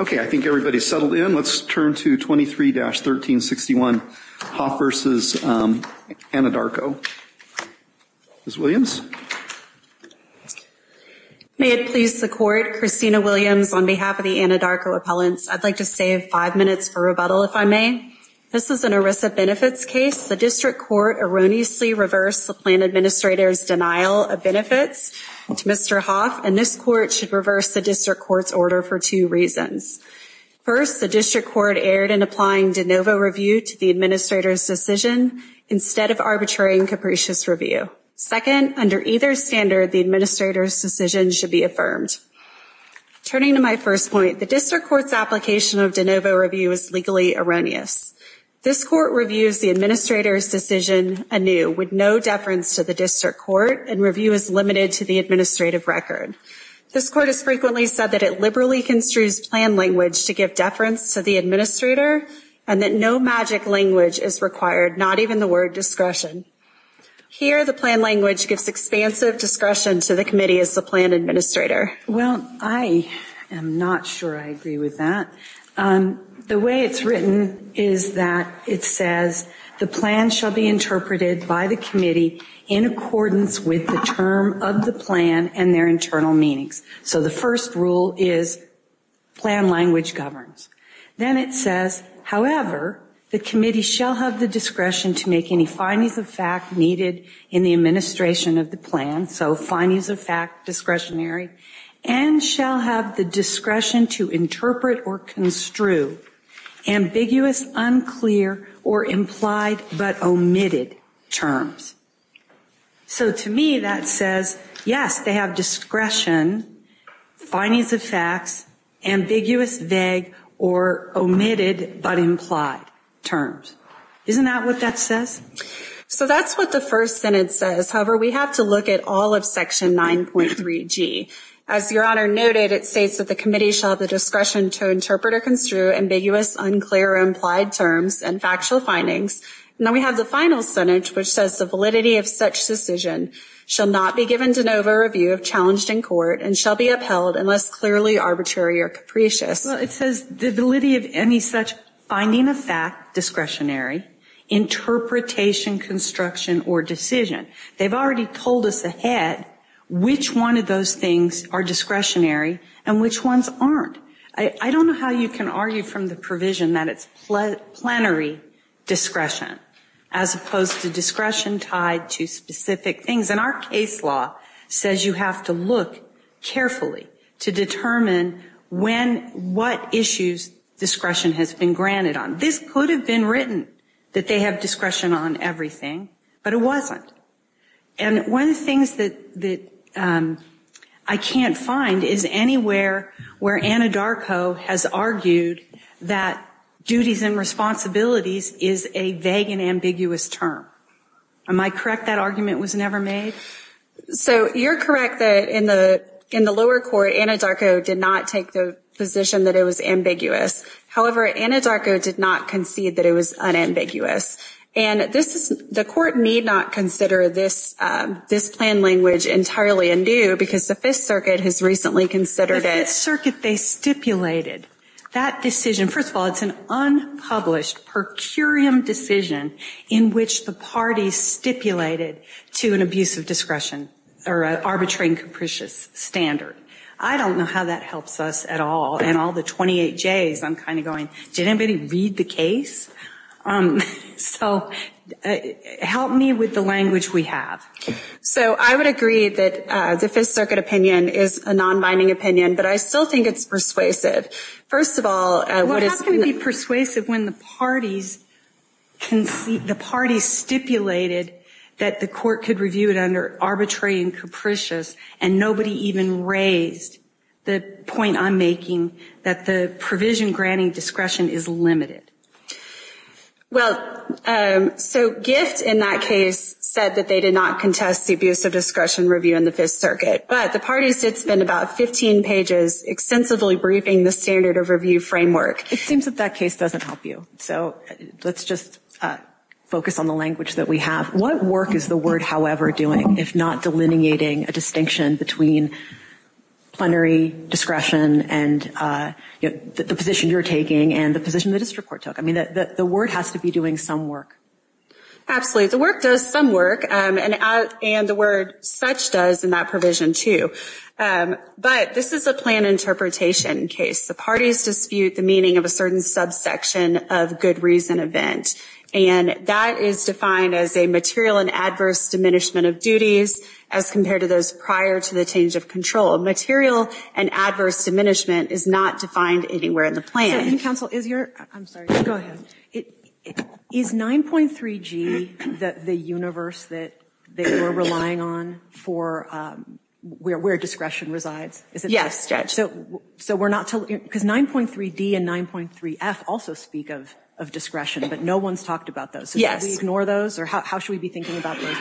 Okay, I think everybody's settled in. Let's turn to 23-1361, Hoff v. Anadarko. Ms. Williams? May it please the Court, Christina Williams on behalf of the Anadarko appellants. I'd like to save five minutes for rebuttal, if I may. This is an ERISA benefits case. The district court erroneously reversed the plan administrator's denial of benefits to Mr. Hoff, and this court should reverse the district court's order for two reasons. First, the district court erred in applying de novo review to the administrator's decision instead of arbitrary and capricious review. Second, under either standard, the administrator's decision should be affirmed. Turning to my first point, the district court's application of de novo review is legally erroneous. This court reviews the administrator's decision anew, with no deference to the district court, and review is limited to the administrative record. This court has frequently said that it liberally construes plan language to give deference to the administrator, and that no magic language is required, not even the word discretion. Here, the plan language gives expansive discretion to the committee as the plan administrator. Well, I am not sure I agree with that. The way it's written is that it says the plan shall be interpreted by the committee in accordance with the term of the plan and their internal meanings. So the first rule is plan language governs. Then it says, however, the committee shall have the discretion to make any findings of fact needed in the administration of the plan, so findings of fact discretionary, and the committee shall have the discretion to interpret or construe ambiguous, unclear, or implied but omitted terms. So to me that says, yes, they have discretion, findings of facts, ambiguous, vague, or omitted but implied terms. Isn't that what that says? So that's what the first sentence says. However, we have to look at all of section 9.3g. As Your Honor noted, it states that the committee shall have the discretion to interpret or construe ambiguous, unclear, or implied terms and factual findings. Now we have the final sentence which says the validity of such decision shall not be given to an over review of challenged in court and shall be upheld unless clearly arbitrary or capricious. Well, it says the validity of any such finding of fact discretionary, interpretation, construction, or decision. They've already told us ahead which one of those things are discretionary and which ones aren't. I don't know how you can argue from the provision that it's plenary discretion as opposed to discretion tied to specific things, and our case law says you have to look carefully to determine when, what issues discretion has been granted on. This could have been written that they have discretion on everything, but it wasn't. And one of the things that I can't find is anywhere where Anadarko has argued that duties and responsibilities is a vague and ambiguous term. Am I correct that argument was never made? So you're correct that in the in the lower court, Anadarko did not take the position that it was ambiguous. However, Anadarko did not concede that it was unambiguous. And this is, the court need not consider this this plan language entirely in due because the Fifth Circuit has recently considered it. The Fifth Circuit, they stipulated that decision. First of all, it's an unpublished per curiam decision in which the party stipulated to an abuse of discretion or an arbitrary and capricious standard. I don't know how that helps us at all and all the 28 J's. I'm kind of going, did anybody read the case? So help me with the language we have. So I would agree that the Fifth Circuit opinion is a non-binding opinion, but I still think it's persuasive. First of all, what is going to be persuasive when the parties concede, the parties stipulated that the court could review it under arbitrary and capricious and nobody even raised the point I'm making that the provision granting discretion is limited. Well, so GIFT in that case said that they did not contest the abuse of discretion review in the Fifth Circuit, but the parties did spend about 15 pages extensively briefing the standard of review framework. It seems that that case doesn't help you. So let's just focus on the language that we have. What work is the word however doing if not delineating a distinction between plenary discretion and the position you're taking and the position that this report took? I mean that the word has to be doing some work. Absolutely, the work does some work and the word such does in that provision too. But this is a plan interpretation case. The parties dispute the meaning of a certain subsection of good reason event and that is defined as a material and adverse diminishment of duties as compared to those prior to the change of control. A material and adverse diminishment is not defined anywhere in the plan. So counsel, is your, I'm sorry, go ahead. Is 9.3G that the universe that they were relying on for where discretion resides? Yes, Judge. So we're not, because 9.3D and 9.3F also speak of discretion, but no one's talked about those. Yes. Do we ignore those or how should we be thinking about those?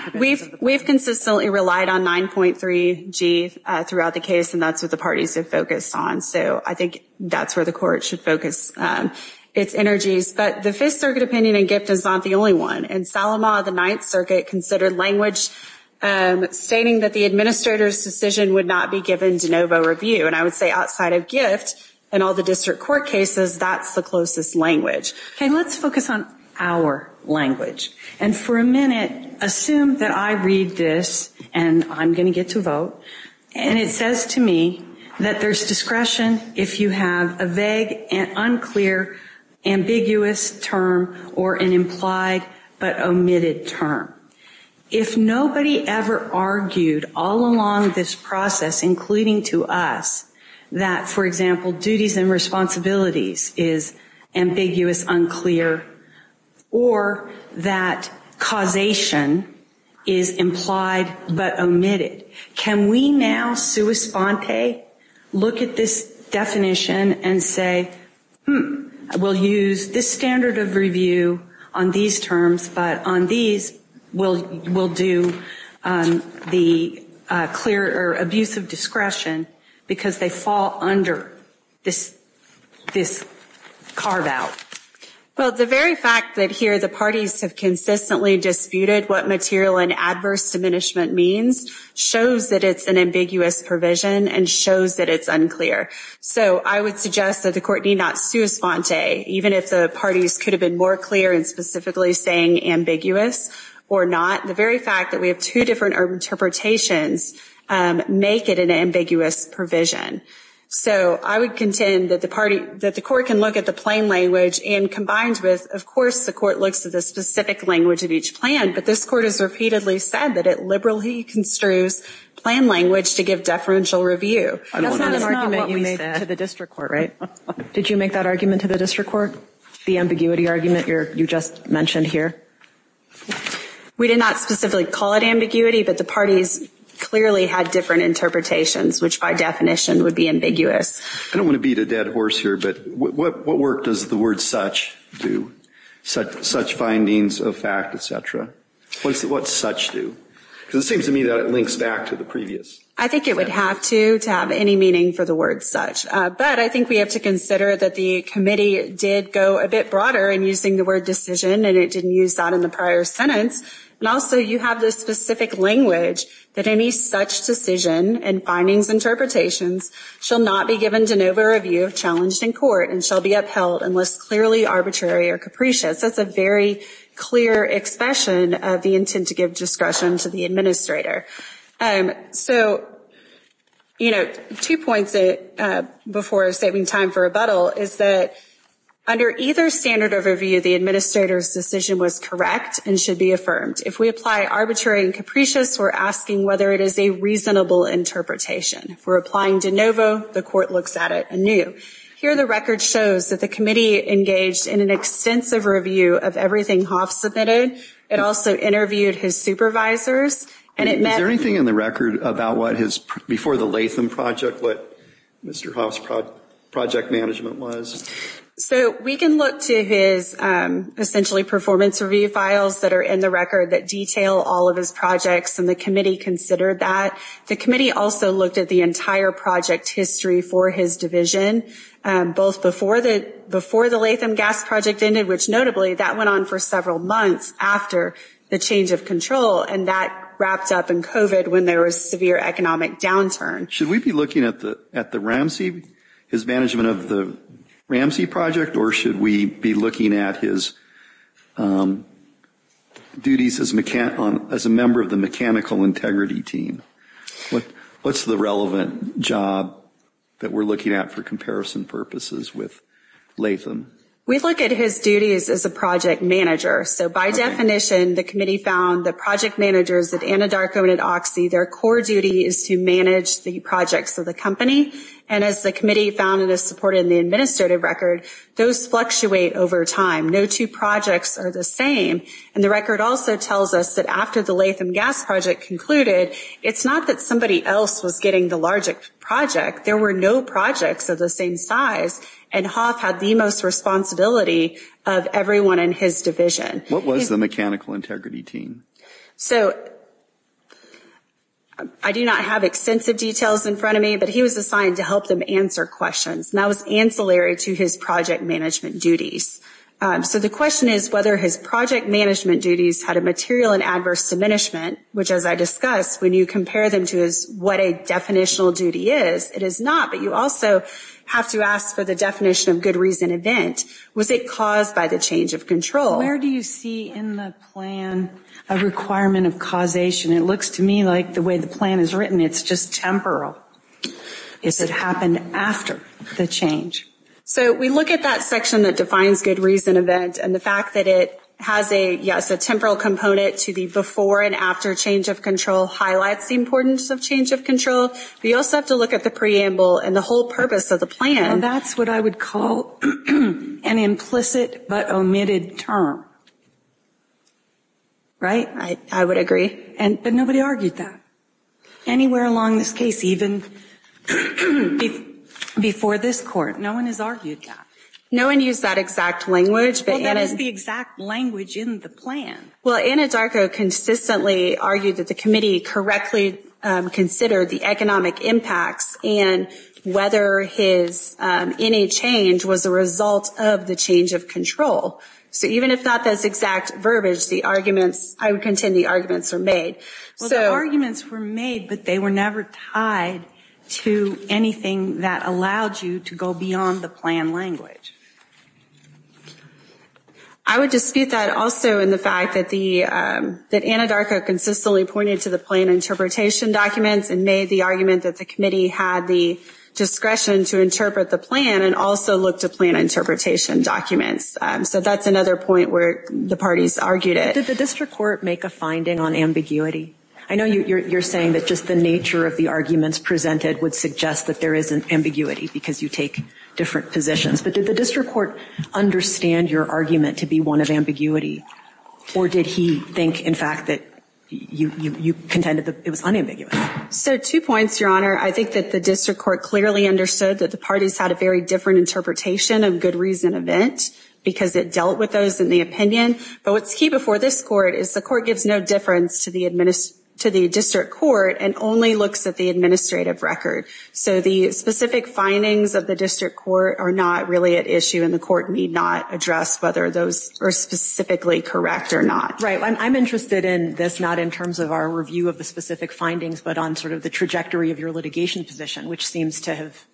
We've consistently relied on 9.3G throughout the case and that's what the parties have focused on. So I think that's where the court should focus its energies. But the Fifth Circuit opinion in GIFT is not the only one. In Saloma, the Ninth Circuit considered language stating that the administrator's decision would not be given de novo review. And I would say outside of GIFT and all the district court cases, that's the closest language. Okay, let's focus on our language. And for a minute, assume that I read this, and I'm going to get to vote, and it says to me that there's discretion if you have a vague and unclear, ambiguous term, or an implied but omitted term. If nobody ever argued all along this process, including to us, that, for example, duties and responsibilities is ambiguous, unclear, or that causation is implied but omitted. Can we now, sua sponte, look at this definition and say, hmm, we'll use this standard of review on these terms, but on these, we'll do the clear or abuse of discretion because they fall under this this carve-out. Well, the very fact that here the parties have consistently disputed what material and adverse diminishment means shows that it's an ambiguous provision and shows that it's unclear. So I would suggest that the court need not sua sponte, even if the parties could have been more clear and specifically saying ambiguous or not. The very fact that we have two different interpretations make it an ambiguous provision. So I would contend that the party, that the court can look at the plain language and combined with, of course, the court looks at the specific language of each plan, but this court has repeatedly said that it liberally construes plain language to give deferential review. That's not an argument you made to the district court, right? Did you make that argument to the district court, the ambiguity argument you just mentioned here? We did not specifically call it ambiguity, but the parties clearly had different interpretations, which by definition would be ambiguous. I don't want to beat a dead horse here, but what work does the word such do? Such findings of fact, etc. What does such do? Because it seems to me that it links back to the previous. I think it would have to, to have any meaning for the word such. But I think we have to consider that the committee did go a bit broader in using the word decision and it didn't use that in the prior sentence. And also you have this specific language that any such decision and findings interpretations shall not be given to an over review of challenged in court and shall be upheld unless clearly arbitrary or capricious. That's a very clear expression of the intent to give discretion to the administrator. So, you know, two points before saving time for rebuttal is that under either standard overview, the administrator's decision was correct and should be affirmed. If we apply arbitrary and capricious, we're asking whether it is a reasonable interpretation. If we're applying de novo, the court looks at it anew. Here the record shows that the committee engaged in an extensive review of everything Hoff submitted. It also interviewed his supervisors and it met... Is there anything in the record about what his, before the Latham project, what Mr. Hoff's project management was? So we can look to his essentially performance review files that are in the record that detail all of his projects and the committee considered that. The committee also looked at the entire project history for his division, both before the Latham gas project ended, which notably that went on for several months after the change of control and that wrapped up in COVID when there was severe economic downturn. Should we be looking at the Ramsey, his management of the Ramsey project, or should we be looking at his duties as a member of the mechanical integrity team? What's the relevant job that we're looking at for comparison purposes with Latham? We look at his duties as a project manager. So by definition, the committee found the project managers at Anadarko and at Oxy, their core duty is to manage the projects of the company. And as the committee found it is supported in the administrative record, those fluctuate over time. No two projects are the same. And the record also tells us that after the Latham gas project concluded, it's not that somebody else was getting the larger project. There were no projects of the same size and Hoff had the most responsibility of everyone in his division. What was the mechanical integrity team? I do not have extensive details in front of me, but he was assigned to help them answer questions. That was ancillary to his project management duties. So the question is whether his project management duties had a material and adverse diminishment, which as I discussed, when you compare them to what a definitional duty is, it is not. But you also have to ask for the definition of good reason event. Was it caused by the change of control? Where do you see in the plan a requirement of causation? It looks to me like the way the plan is written. It's just temporal. Is it happened after the change? So we look at that section that defines good reason event and the fact that it has a, yes, a temporal component to the before and after change of control highlights the importance of change of control. We also have to look at the preamble and the whole purpose of the plan. That's what I would call an implicit but omitted term. Right? I would agree. But nobody argued that. Anywhere along this case, even before this court, no one has argued that. No one used that exact language. Well, that is the exact language in the plan. Well, Anna Darko consistently argued that the committee correctly considered the economic impacts and whether his any change was a result of the change of control. So even if not this exact verbiage, the arguments, I would contend the arguments are made. So the arguments were made, but they were never tied to anything that allowed you to go beyond the plan language. I would dispute that also in the fact that the, that Anna Darko consistently pointed to the plan interpretation documents and made the argument that the committee had the discretion to interpret the plan and also look to plan interpretation documents. So that's another point where the parties argued it. Did the district court make a finding on ambiguity? I know you're saying that just the nature of the arguments presented would suggest that there is an ambiguity because you take different positions. But did the district court understand your argument to be one of ambiguity or did he think in fact that you, you, you contended that it was unambiguous? So two points, Your Honor. I think that the district court clearly understood that the parties had a very different interpretation of good reason event because it dealt with those in the opinion. But what's key before this court is the court gives no difference to the administer, to the district court and only looks at the administrative record. So the specific findings of the district court are not really at issue and the court need not address whether those are specifically correct or not. Right. I'm interested in this, not in terms of our review of the specific findings, but on sort of the trajectory of your litigation position, which seems to have,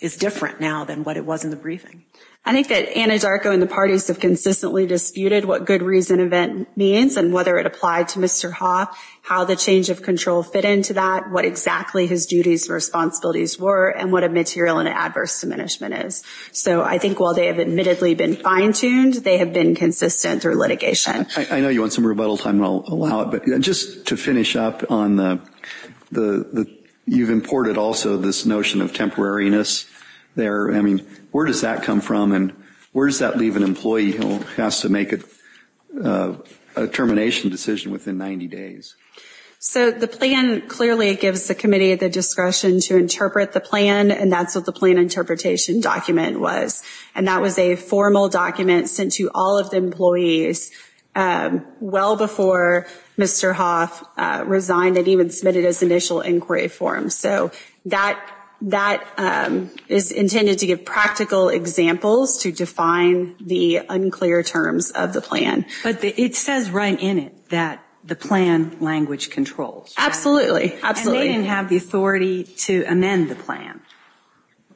is different now than what it was in the briefing. I think that Anna Darko and the parties have consistently disputed what good reason event means and whether it applied to Mr. Hoth, how the change of control fit into that, what exactly his duties and responsibilities were, and what a material and adverse diminishment is. So I think while they have admittedly been fine-tuned, they have been consistent through litigation. I know you want some rebuttal time and I'll allow it, but just to finish up on the, the, the, you've imported also this notion of temporariness there. I mean, where does that come from and where does that leave an employee who has to make a termination decision within 90 days? So the plan clearly gives the committee the discretion to interpret the plan and that's what the plan interpretation document was. And that was a formal document sent to all of the employees well before Mr. Hoth resigned and even submitted his initial inquiry form. So that, that is intended to give practical examples to define the unclear terms of the plan. But it says right in it that the plan language controls. Absolutely, absolutely. And they didn't have the authority to amend the plan.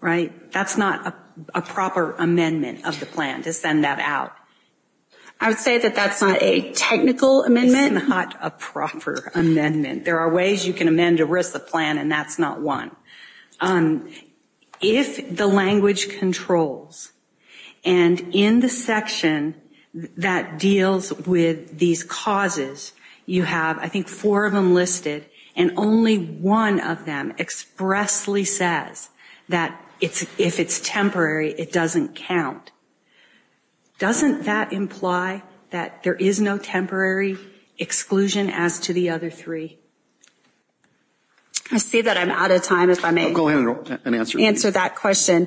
Right? That's not a proper amendment of the plan to send that out. I would say that that's not a technical amendment. It's not a proper amendment. There are ways you can amend a RISA plan and that's not one. If the language controls and in the section that deals with these causes, you have I think four of them listed and only one of them expressly says that it's, if it's temporary, it doesn't count. Doesn't that imply that there is no temporary exclusion as to the other three? I see that I'm out of time if I may. Go ahead and answer. Answer that question.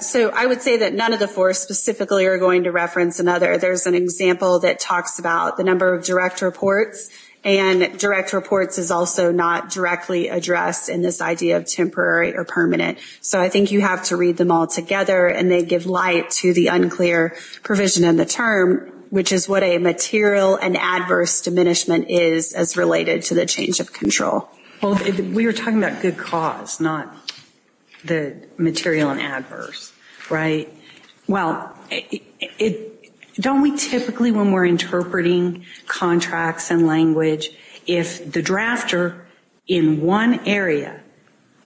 So I would say that none of the four specifically are going to reference another. There's an example that talks about the number of direct reports and direct reports is also not directly addressed in this idea of temporary or permanent. So I think you have to read them all together and they give light to the unclear provision in the term, which is what a material and adverse diminishment is as related to the change of control. Well, we were talking about good cause, not material and adverse, right? Well, don't we typically, when we're interpreting contracts and language, if the drafter in one area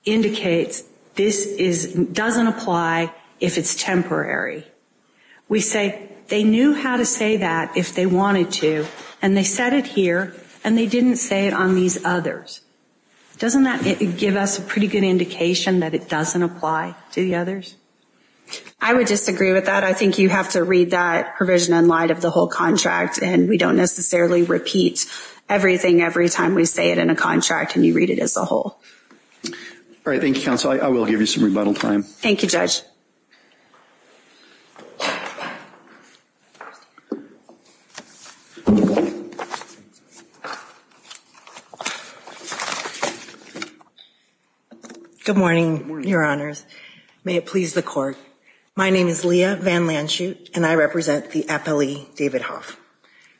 indicates this doesn't apply if it's temporary, we say they knew how to say that if they wanted to and they set it here and they didn't say it on these others. Doesn't that give us a pretty good indication that it doesn't apply to the others? I would disagree with that. I think you have to read that provision in light of the whole contract and we don't necessarily repeat everything every time we say it in a contract and you read it as a whole. All right. Thank you counsel. I will give you some rebuttal time. Thank you, Judge. Good morning, Your Honors. May it please the court. My name is Leah Van Lanshoot and I represent the appellee David Hoff.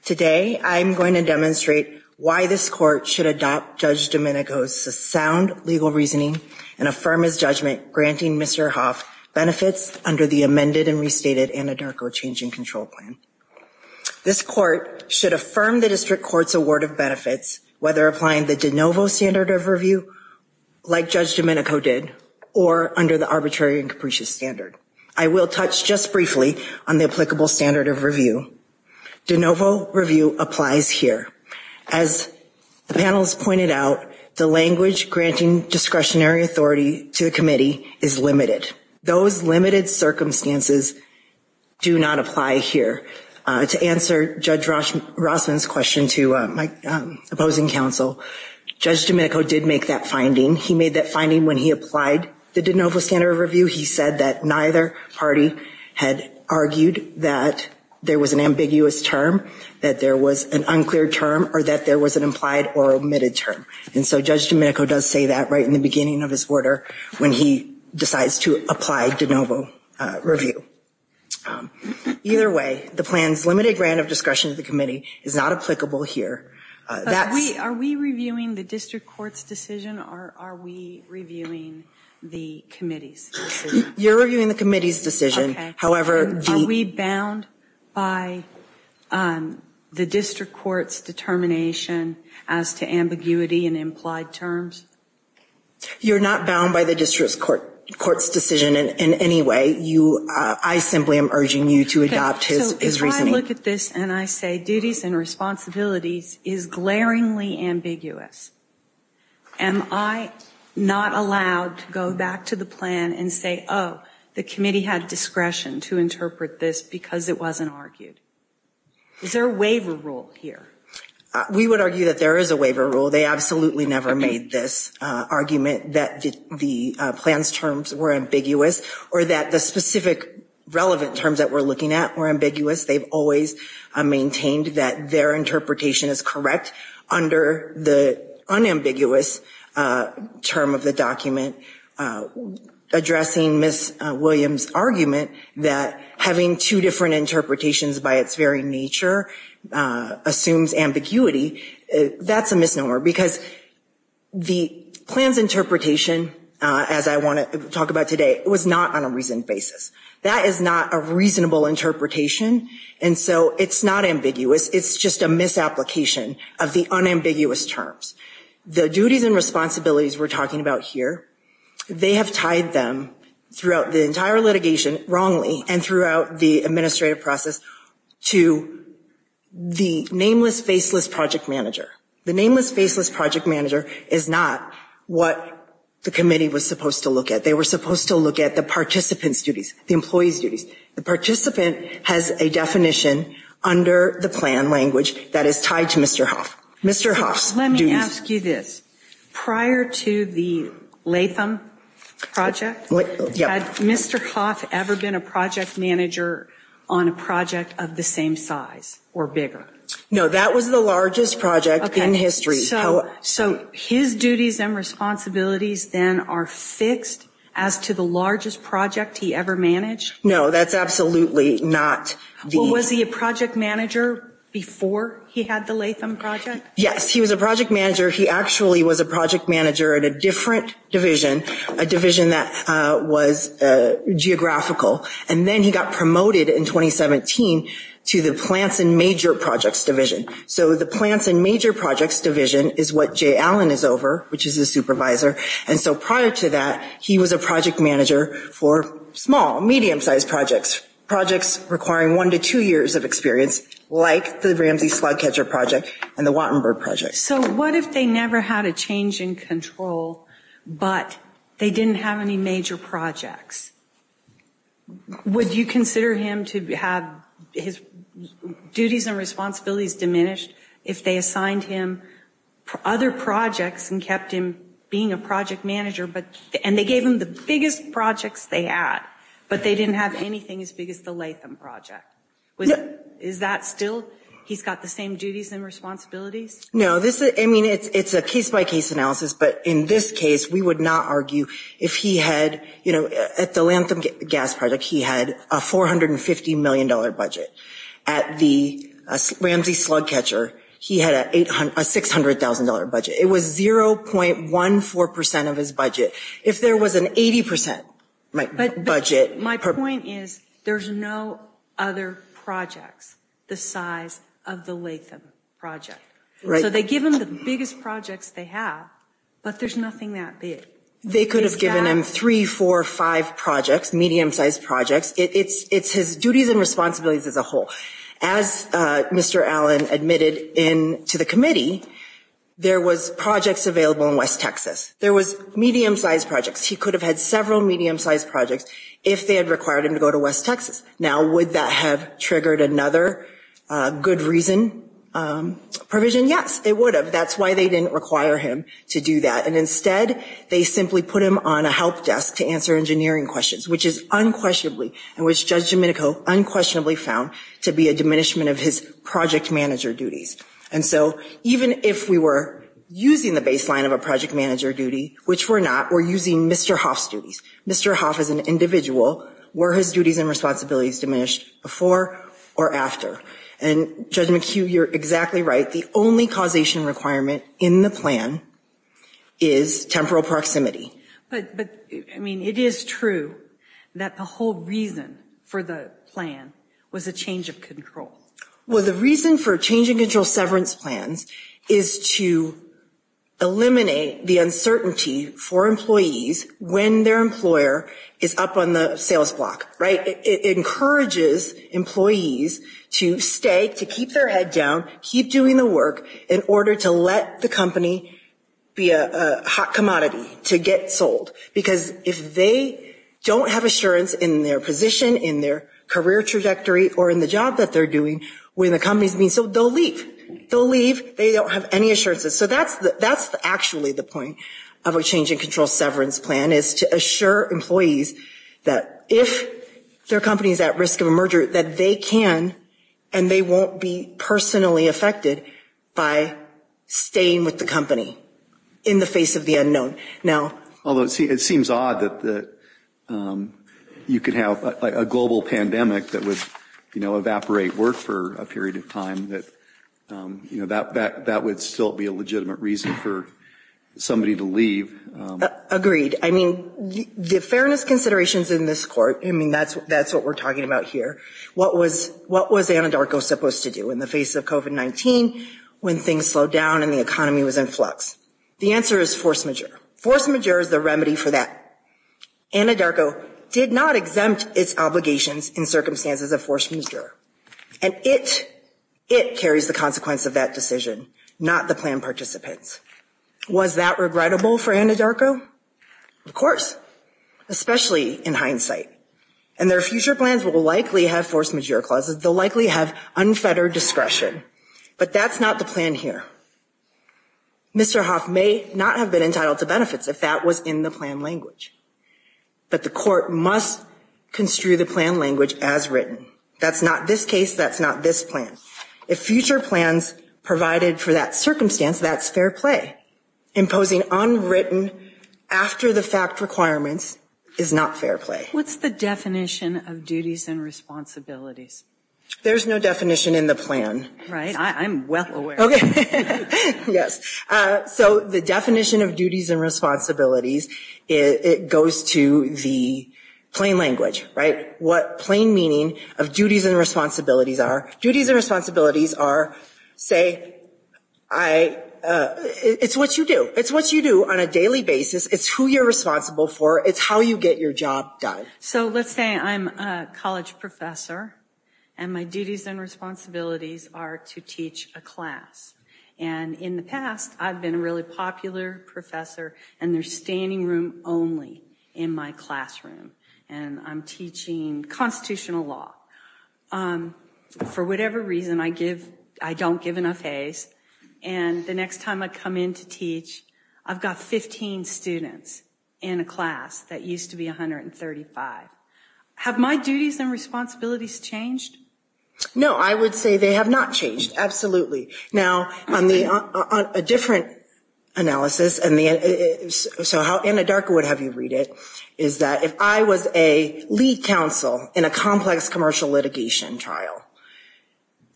Today, I'm going to demonstrate why this court should adopt Judge Domenico's sound legal reasoning and affirm his judgment granting Mr. Hoff benefits under the amended and restated Anadarko change in control plan. This court should affirm the district court's award of benefits whether applying the de novo standard of review like Judge Domenico did or under the arbitrary and capricious standard. I will touch just briefly on the applicable standard of review. De novo review applies here. As the panel has pointed out, the language granting discretionary authority to the committee is limited. Those limited circumstances do not apply here. To answer Judge Rossman's question to my opposing counsel, Judge Domenico did make that finding. He made that finding when he applied the de novo standard of review. He said that neither party had argued that there was an ambiguous term, that there was an unclear term, or that there was an implied or omitted term. And so Judge Domenico does say that right in the beginning of his order when he decides to apply de novo review. Either way, the plan's limited grant of discretion to the committee is not applicable here. Are we reviewing the district court's decision or are we reviewing the committee's? You're reviewing the committee's decision. However, are we bound by the district court's determination as to ambiguity and implied terms? You're not bound by the district court court's decision in any way. I simply am urging you to adopt his reasoning. So, I look at this and I say duties and responsibilities is glaringly ambiguous. Am I not allowed to go back to the plan and say, oh, the committee had discretion to interpret this because it wasn't argued? Is there a waiver rule here? We would argue that there is a waiver rule. They absolutely never made this argument that the plan's terms were ambiguous or that the specific relevant terms that we're looking at were ambiguous. They've always maintained that their interpretation is correct under the unambiguous term of the document. Addressing Ms. Williams' argument that having two different interpretations by its very nature assumes ambiguity. That's a misnomer because the plan's interpretation, as I want to talk about today, was not on a reasoned basis. That is not a reasonable interpretation, and so it's not ambiguous. It's just a misapplication of the unambiguous terms. The duties and responsibilities we're talking about here, they have tied them throughout the entire litigation wrongly and throughout the administrative process to the nameless, faceless project manager. The nameless, faceless project manager is not what the committee was supposed to look at. They were supposed to look at the participant's duties, the employee's duties. The participant has a definition under the plan language that is tied to Mr. Hoff. Mr. Hoff's duties. Let me ask you this. Prior to the Latham project, had Mr. Hoff ever been a project manager on a project of the same size? Or bigger? No, that was the largest project in history. So his duties and responsibilities then are fixed as to the largest project he ever managed? No, that's absolutely not. Was he a project manager before he had the Latham project? Yes, he was a project manager. He actually was a project manager at a different division, a division that was geographical. And then he got promoted in 2017 to the Plants and Major Projects Division. So the Plants and Major Projects Division is what Jay Allen is over, which is a supervisor. And so prior to that, he was a project manager for small, medium-sized projects. Projects requiring one to two years of experience, like the Ramsey Slug Catcher project and the Wattenberg project. So what if they never had a change in control, but they didn't have any major projects? Would you consider him to have his duties and responsibilities diminished if they assigned him other projects and kept him being a project manager, and they gave him the biggest projects they had, but they didn't have anything as big as the Latham project? Is that still, he's got the same duties and responsibilities? No, this is, I mean, it's a case-by-case analysis. But in this case, we would not argue if he had, you know, at the Latham Gas Project, he had a $450 million budget. At the Ramsey Slug Catcher, he had a $600,000 budget. It was 0.14% of his budget. If there was an 80% budget... But my point is, there's no other projects the size of the Latham project. So they give him the biggest projects they have, but there's nothing that big. They could have given him three, four, five projects, medium-sized projects. It's his duties and responsibilities as a whole. As Mr. Allen admitted in to the committee, there was projects available in West Texas. There was medium-sized projects. He could have had several medium-sized projects if they had required him to go to West Texas. Now, would that have triggered another good reason provision? Yes, it would have. That's why they didn't require him to do that. And instead, they simply put him on a help desk to answer engineering questions, which is unquestionably, and which Judge Domenico unquestionably found to be a diminishment of his project manager duties. And so even if we were using the baseline of a project manager duty, which we're not, we're using Mr. Hoff's duties. Mr. Hoff as an individual, were his duties and responsibilities diminished before or after? And Judge McHugh, you're exactly right. The only causation requirement in the plan is temporal proximity. But, I mean, it is true that the whole reason for the plan was a change of control. Well, the reason for change and control severance plans is to eliminate the uncertainty for employees when their employer is up on the sales block, right? It encourages employees to stay, to keep their head down, keep doing the work in order to let the company be a hot commodity, to get sold. Because if they don't have assurance in their position, in their career trajectory, or in the job that they're doing, when the company's being sold, they'll leave. They'll leave. They don't have any assurances. So that's actually the point of a change in control severance plan, is to assure employees that if their company is at risk of a merger, that they can and they won't be personally affected by staying with the company in the face of the unknown. Now, although it seems odd that you could have a global pandemic that would, you know, evaporate work for a period of time, that you know, that would still be a legitimate reason for somebody to leave. Agreed. I mean, the fairness considerations in this court, I mean, that's what we're talking about here. What was Anadarko supposed to do in the face of COVID-19 when things slowed down and the economy was in flux? The answer is force majeure. Force majeure is the remedy for that. Anadarko did not exempt its obligations in circumstances of force majeure, and it it carries the consequence of that decision. Not the plan participants. Was that regrettable for Anadarko? Of course. Especially in hindsight. And their future plans will likely have force majeure clauses. They'll likely have unfettered discretion. But that's not the plan here. Mr. Hoff may not have been entitled to benefits if that was in the plan language. But the court must construe the plan language as written. That's not this case. That's not this plan. If future plans provided for that circumstance, that's fair play. Imposing unwritten after-the-fact requirements is not fair play. What's the definition of duties and responsibilities? There's no definition in the plan. Right, I'm well aware. Yes, so the definition of duties and responsibilities it goes to the plain language, right? What plain meaning of duties and responsibilities are. Duties and responsibilities are, say, I It's what you do. It's what you do on a daily basis. It's who you're responsible for. It's how you get your job done. So let's say I'm a college professor and my duties and responsibilities are to teach a class. And in the past, I've been a really popular professor and there's standing room only in my classroom and I'm teaching constitutional law. For whatever reason I give, I don't give enough A's and the next time I come in to teach I've got 15 students in a class that used to be 135. Have my duties and responsibilities changed? No, I would say they have not changed. Absolutely. Now, on the different analysis and the so how Anna Darka would have you read it, is that if I was a lead counsel in a complex commercial litigation trial,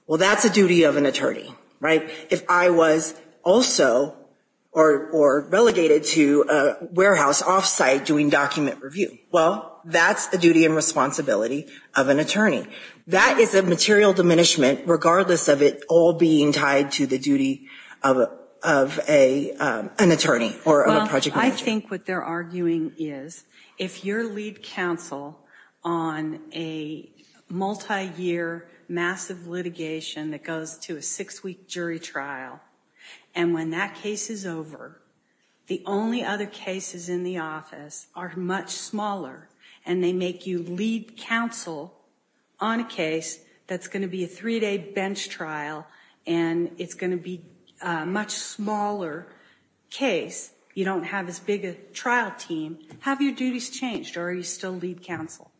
well, that's a duty of an attorney, right? If I was also or relegated to a warehouse off-site doing document review, well, that's the duty and responsibility of an attorney. That is a material diminishment regardless of it all being tied to the duty of an attorney or a project manager. I think what they're arguing is if you're lead counsel on a multi-year massive litigation that goes to a six-week jury trial and when that case is over, the only other cases in the office are much smaller and they make you lead counsel on a case that's going to be a three-day bench trial and it's going to be a much smaller case. You don't have as big a trial team. Have your duties changed or are you still lead counsel?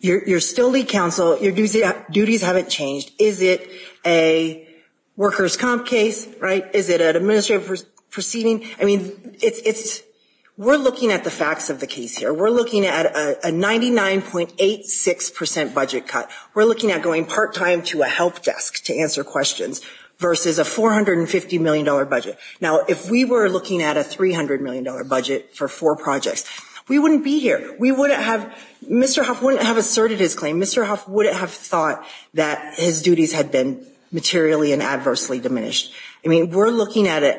You're still lead counsel. Your duties haven't changed. Is it a administrative proceeding? I mean, it's we're looking at the facts of the case here. We're looking at a 99.86% budget cut. We're looking at going part-time to a help desk to answer questions versus a $450 million budget. Now, if we were looking at a $300 million budget for four projects, we wouldn't be here. We wouldn't have, Mr. Huff wouldn't have asserted his claim. Mr. Huff wouldn't have thought that his duties had been materially and adversely diminished. I mean, we're looking at a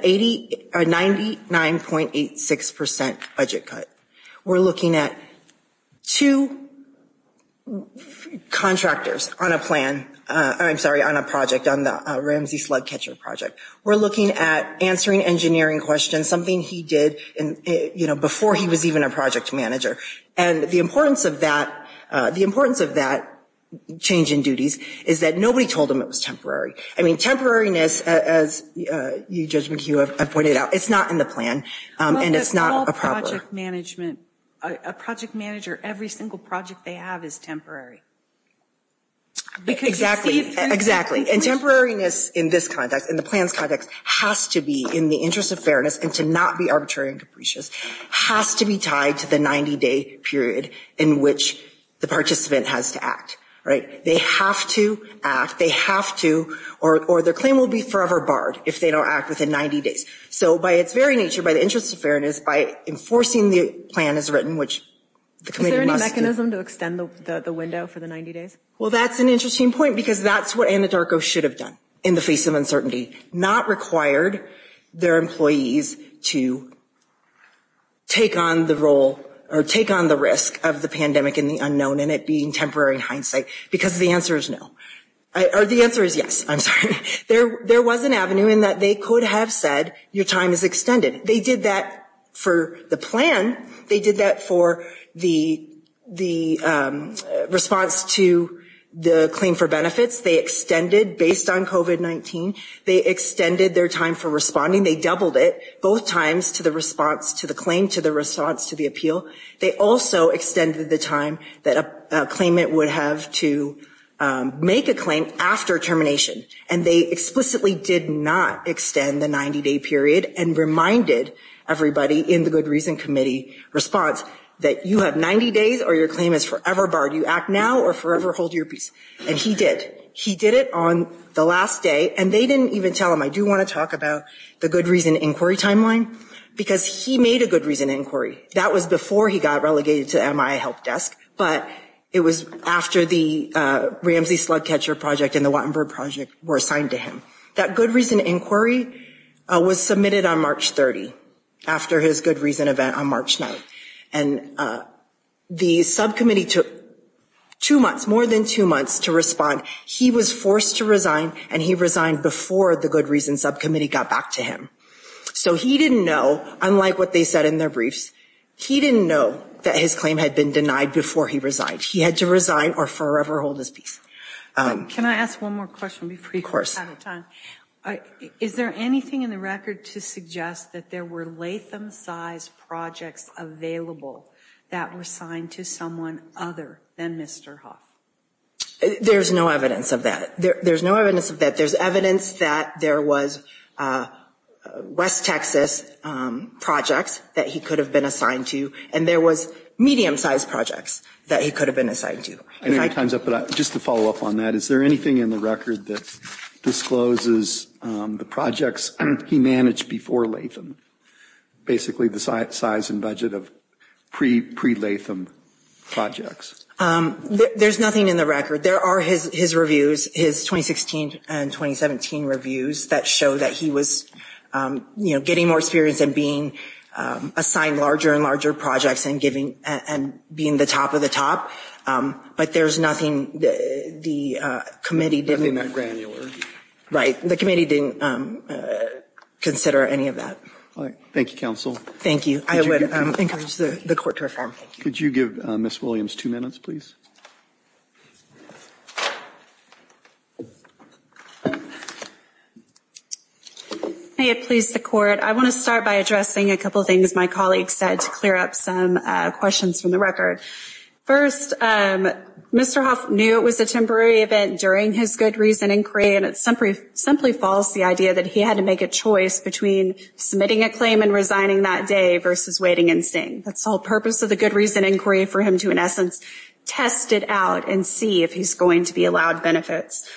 99.86% budget cut. We're looking at two contractors on a plan. I'm sorry, on a project, on the Ramsey slug catcher project. We're looking at answering engineering questions, something he did, you know, before he was even a project manager and the importance of that, the importance of that change in duties, is that nobody told him it was temporary. I mean, temporariness, as you, Judge McHugh, have pointed out, it's not in the plan, and it's not a problem. A project manager, every single project they have is temporary. Exactly, exactly, and temporariness in this context, in the plan's context, has to be in the interest of fairness and to not be arbitrary and capricious, has to be tied to the 90-day period in which the participant has to act, right? They have to act, they have to, or their claim will be forever barred if they don't act within 90 days. So, by its very nature, by the interest of fairness, by enforcing the plan as written, which the committee must do. Is there any mechanism to extend the window for the 90 days? Well, that's an interesting point, because that's what Anadarko should have done in the face of uncertainty, not required their employees to take on the role, or take on the risk of the pandemic and the unknown, and it being temporary in hindsight, because the answer is no. Or the answer is yes, I'm sorry. There was an avenue in that they could have said, your time is extended. They did that for the plan. They did that for the response to the claim for benefits. They extended, based on COVID-19, they extended their time for responding. They doubled it, both times, to the response to the claim, to the response to the appeal. They also extended the time that a claimant would have to make a claim after termination, and they explicitly did not extend the 90-day period, and reminded everybody in the Good Reason Committee response that you have 90 days, or your claim is forever barred. You act now, or forever hold your peace. And he did. He did it on the last day, and they didn't even tell him, I do want to talk about the Good Reason Inquiry Timeline, because he made a Good Reason Inquiry. That was before he got relegated to MIA Help Desk, but it was after the Ramsey Slug Catcher Project and the Wattenberg Project were assigned to him. That Good Reason Inquiry was submitted on March 30, after his Good Reason event on March 9, and the subcommittee took two months, more than two months, to respond. He was forced to resign, and he resigned before the Good Reason Subcommittee got back to him. So he didn't know, unlike what they said in their briefs, he didn't know that his claim had been denied before he resigned. He had to resign, or forever hold his peace. Can I ask one more question before we run out of time? Of course. Is there anything in the record to suggest that there were Latham-size projects available that were assigned to someone other than Mr. Hough? There's no evidence of that. There's no evidence of that. There's evidence that there was West Texas projects that he could have been assigned to, and there was medium-sized projects that he could have been assigned to. I know you're time's up, but just to follow up on that, is there anything in the record that discloses the projects he managed before Latham? Basically the size and budget of pre-Latham projects. There's nothing in the record. There are his reviews, his 2016 and 2017 reviews, that show that he was getting more experience and being assigned larger and larger projects and being the top of the top, but there's nothing the committee didn't... Right, the committee didn't consider any of that. All right. Thank you, counsel. Thank you. I would encourage the court to reform. Could you give Ms. Williams two minutes, please? May it please the court, I want to start by addressing a couple things my colleague said to clear up some questions from the record. First, Mr. Hough knew it was a temporary event during his good reason inquiry, and it's simply false the idea that he had to make a choice between submitting a claim and resigning that day versus waiting and seeing. That's the whole purpose of the good reason inquiry for him to, in essence, test it out and see if he's going to be allowed benefits.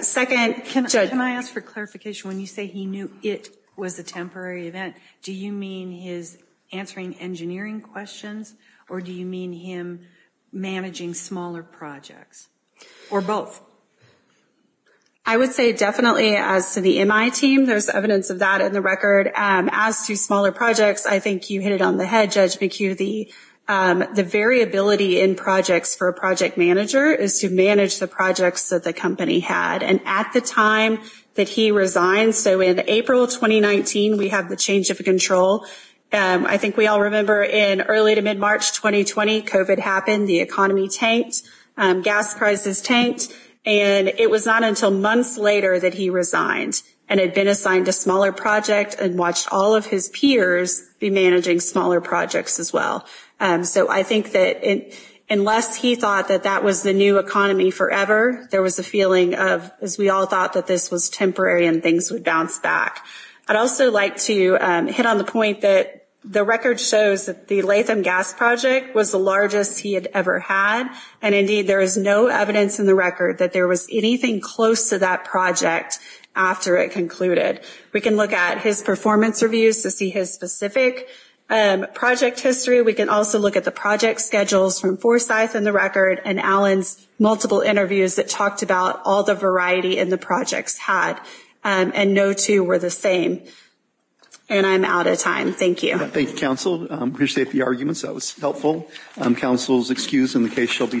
Second... Can I ask for clarification? When you say he knew it was a temporary event, do you mean his answering engineering questions, or do you mean him managing smaller projects? Or both? I would say definitely, as to the MI team, there's evidence of that in the record. As to smaller projects, I think you hit it on the head, Judge McHugh. The variability in projects for a project manager is to manage the projects that the company had, and at the time that he resigned, so in April 2019, we have the change of control. I think we all remember in early to mid-March 2020, COVID happened, the economy tanked, gas prices tanked, and it was not until months later that he resigned and had been assigned a smaller project and watched all of his peers be managing smaller projects as well. So I think that unless he thought that that was the new economy forever, there was a feeling of, as we all thought, that this was temporary and things would bounce back. I'd also like to hit on the point that the record shows that the Latham Gas Project was the largest he had ever had, and indeed, there is no evidence in the record that there was anything close to that project after it concluded. We can look at his performance reviews to see his specific project history. We can also look at the project schedules from Forsyth in the record and Allen's multiple interviews that talked about all the variety in the projects had, and no two were the same. And I'm out of time. Thank you. Thank you, counsel. I appreciate the arguments. That was helpful. Counsel is excused and the case shall be submitted.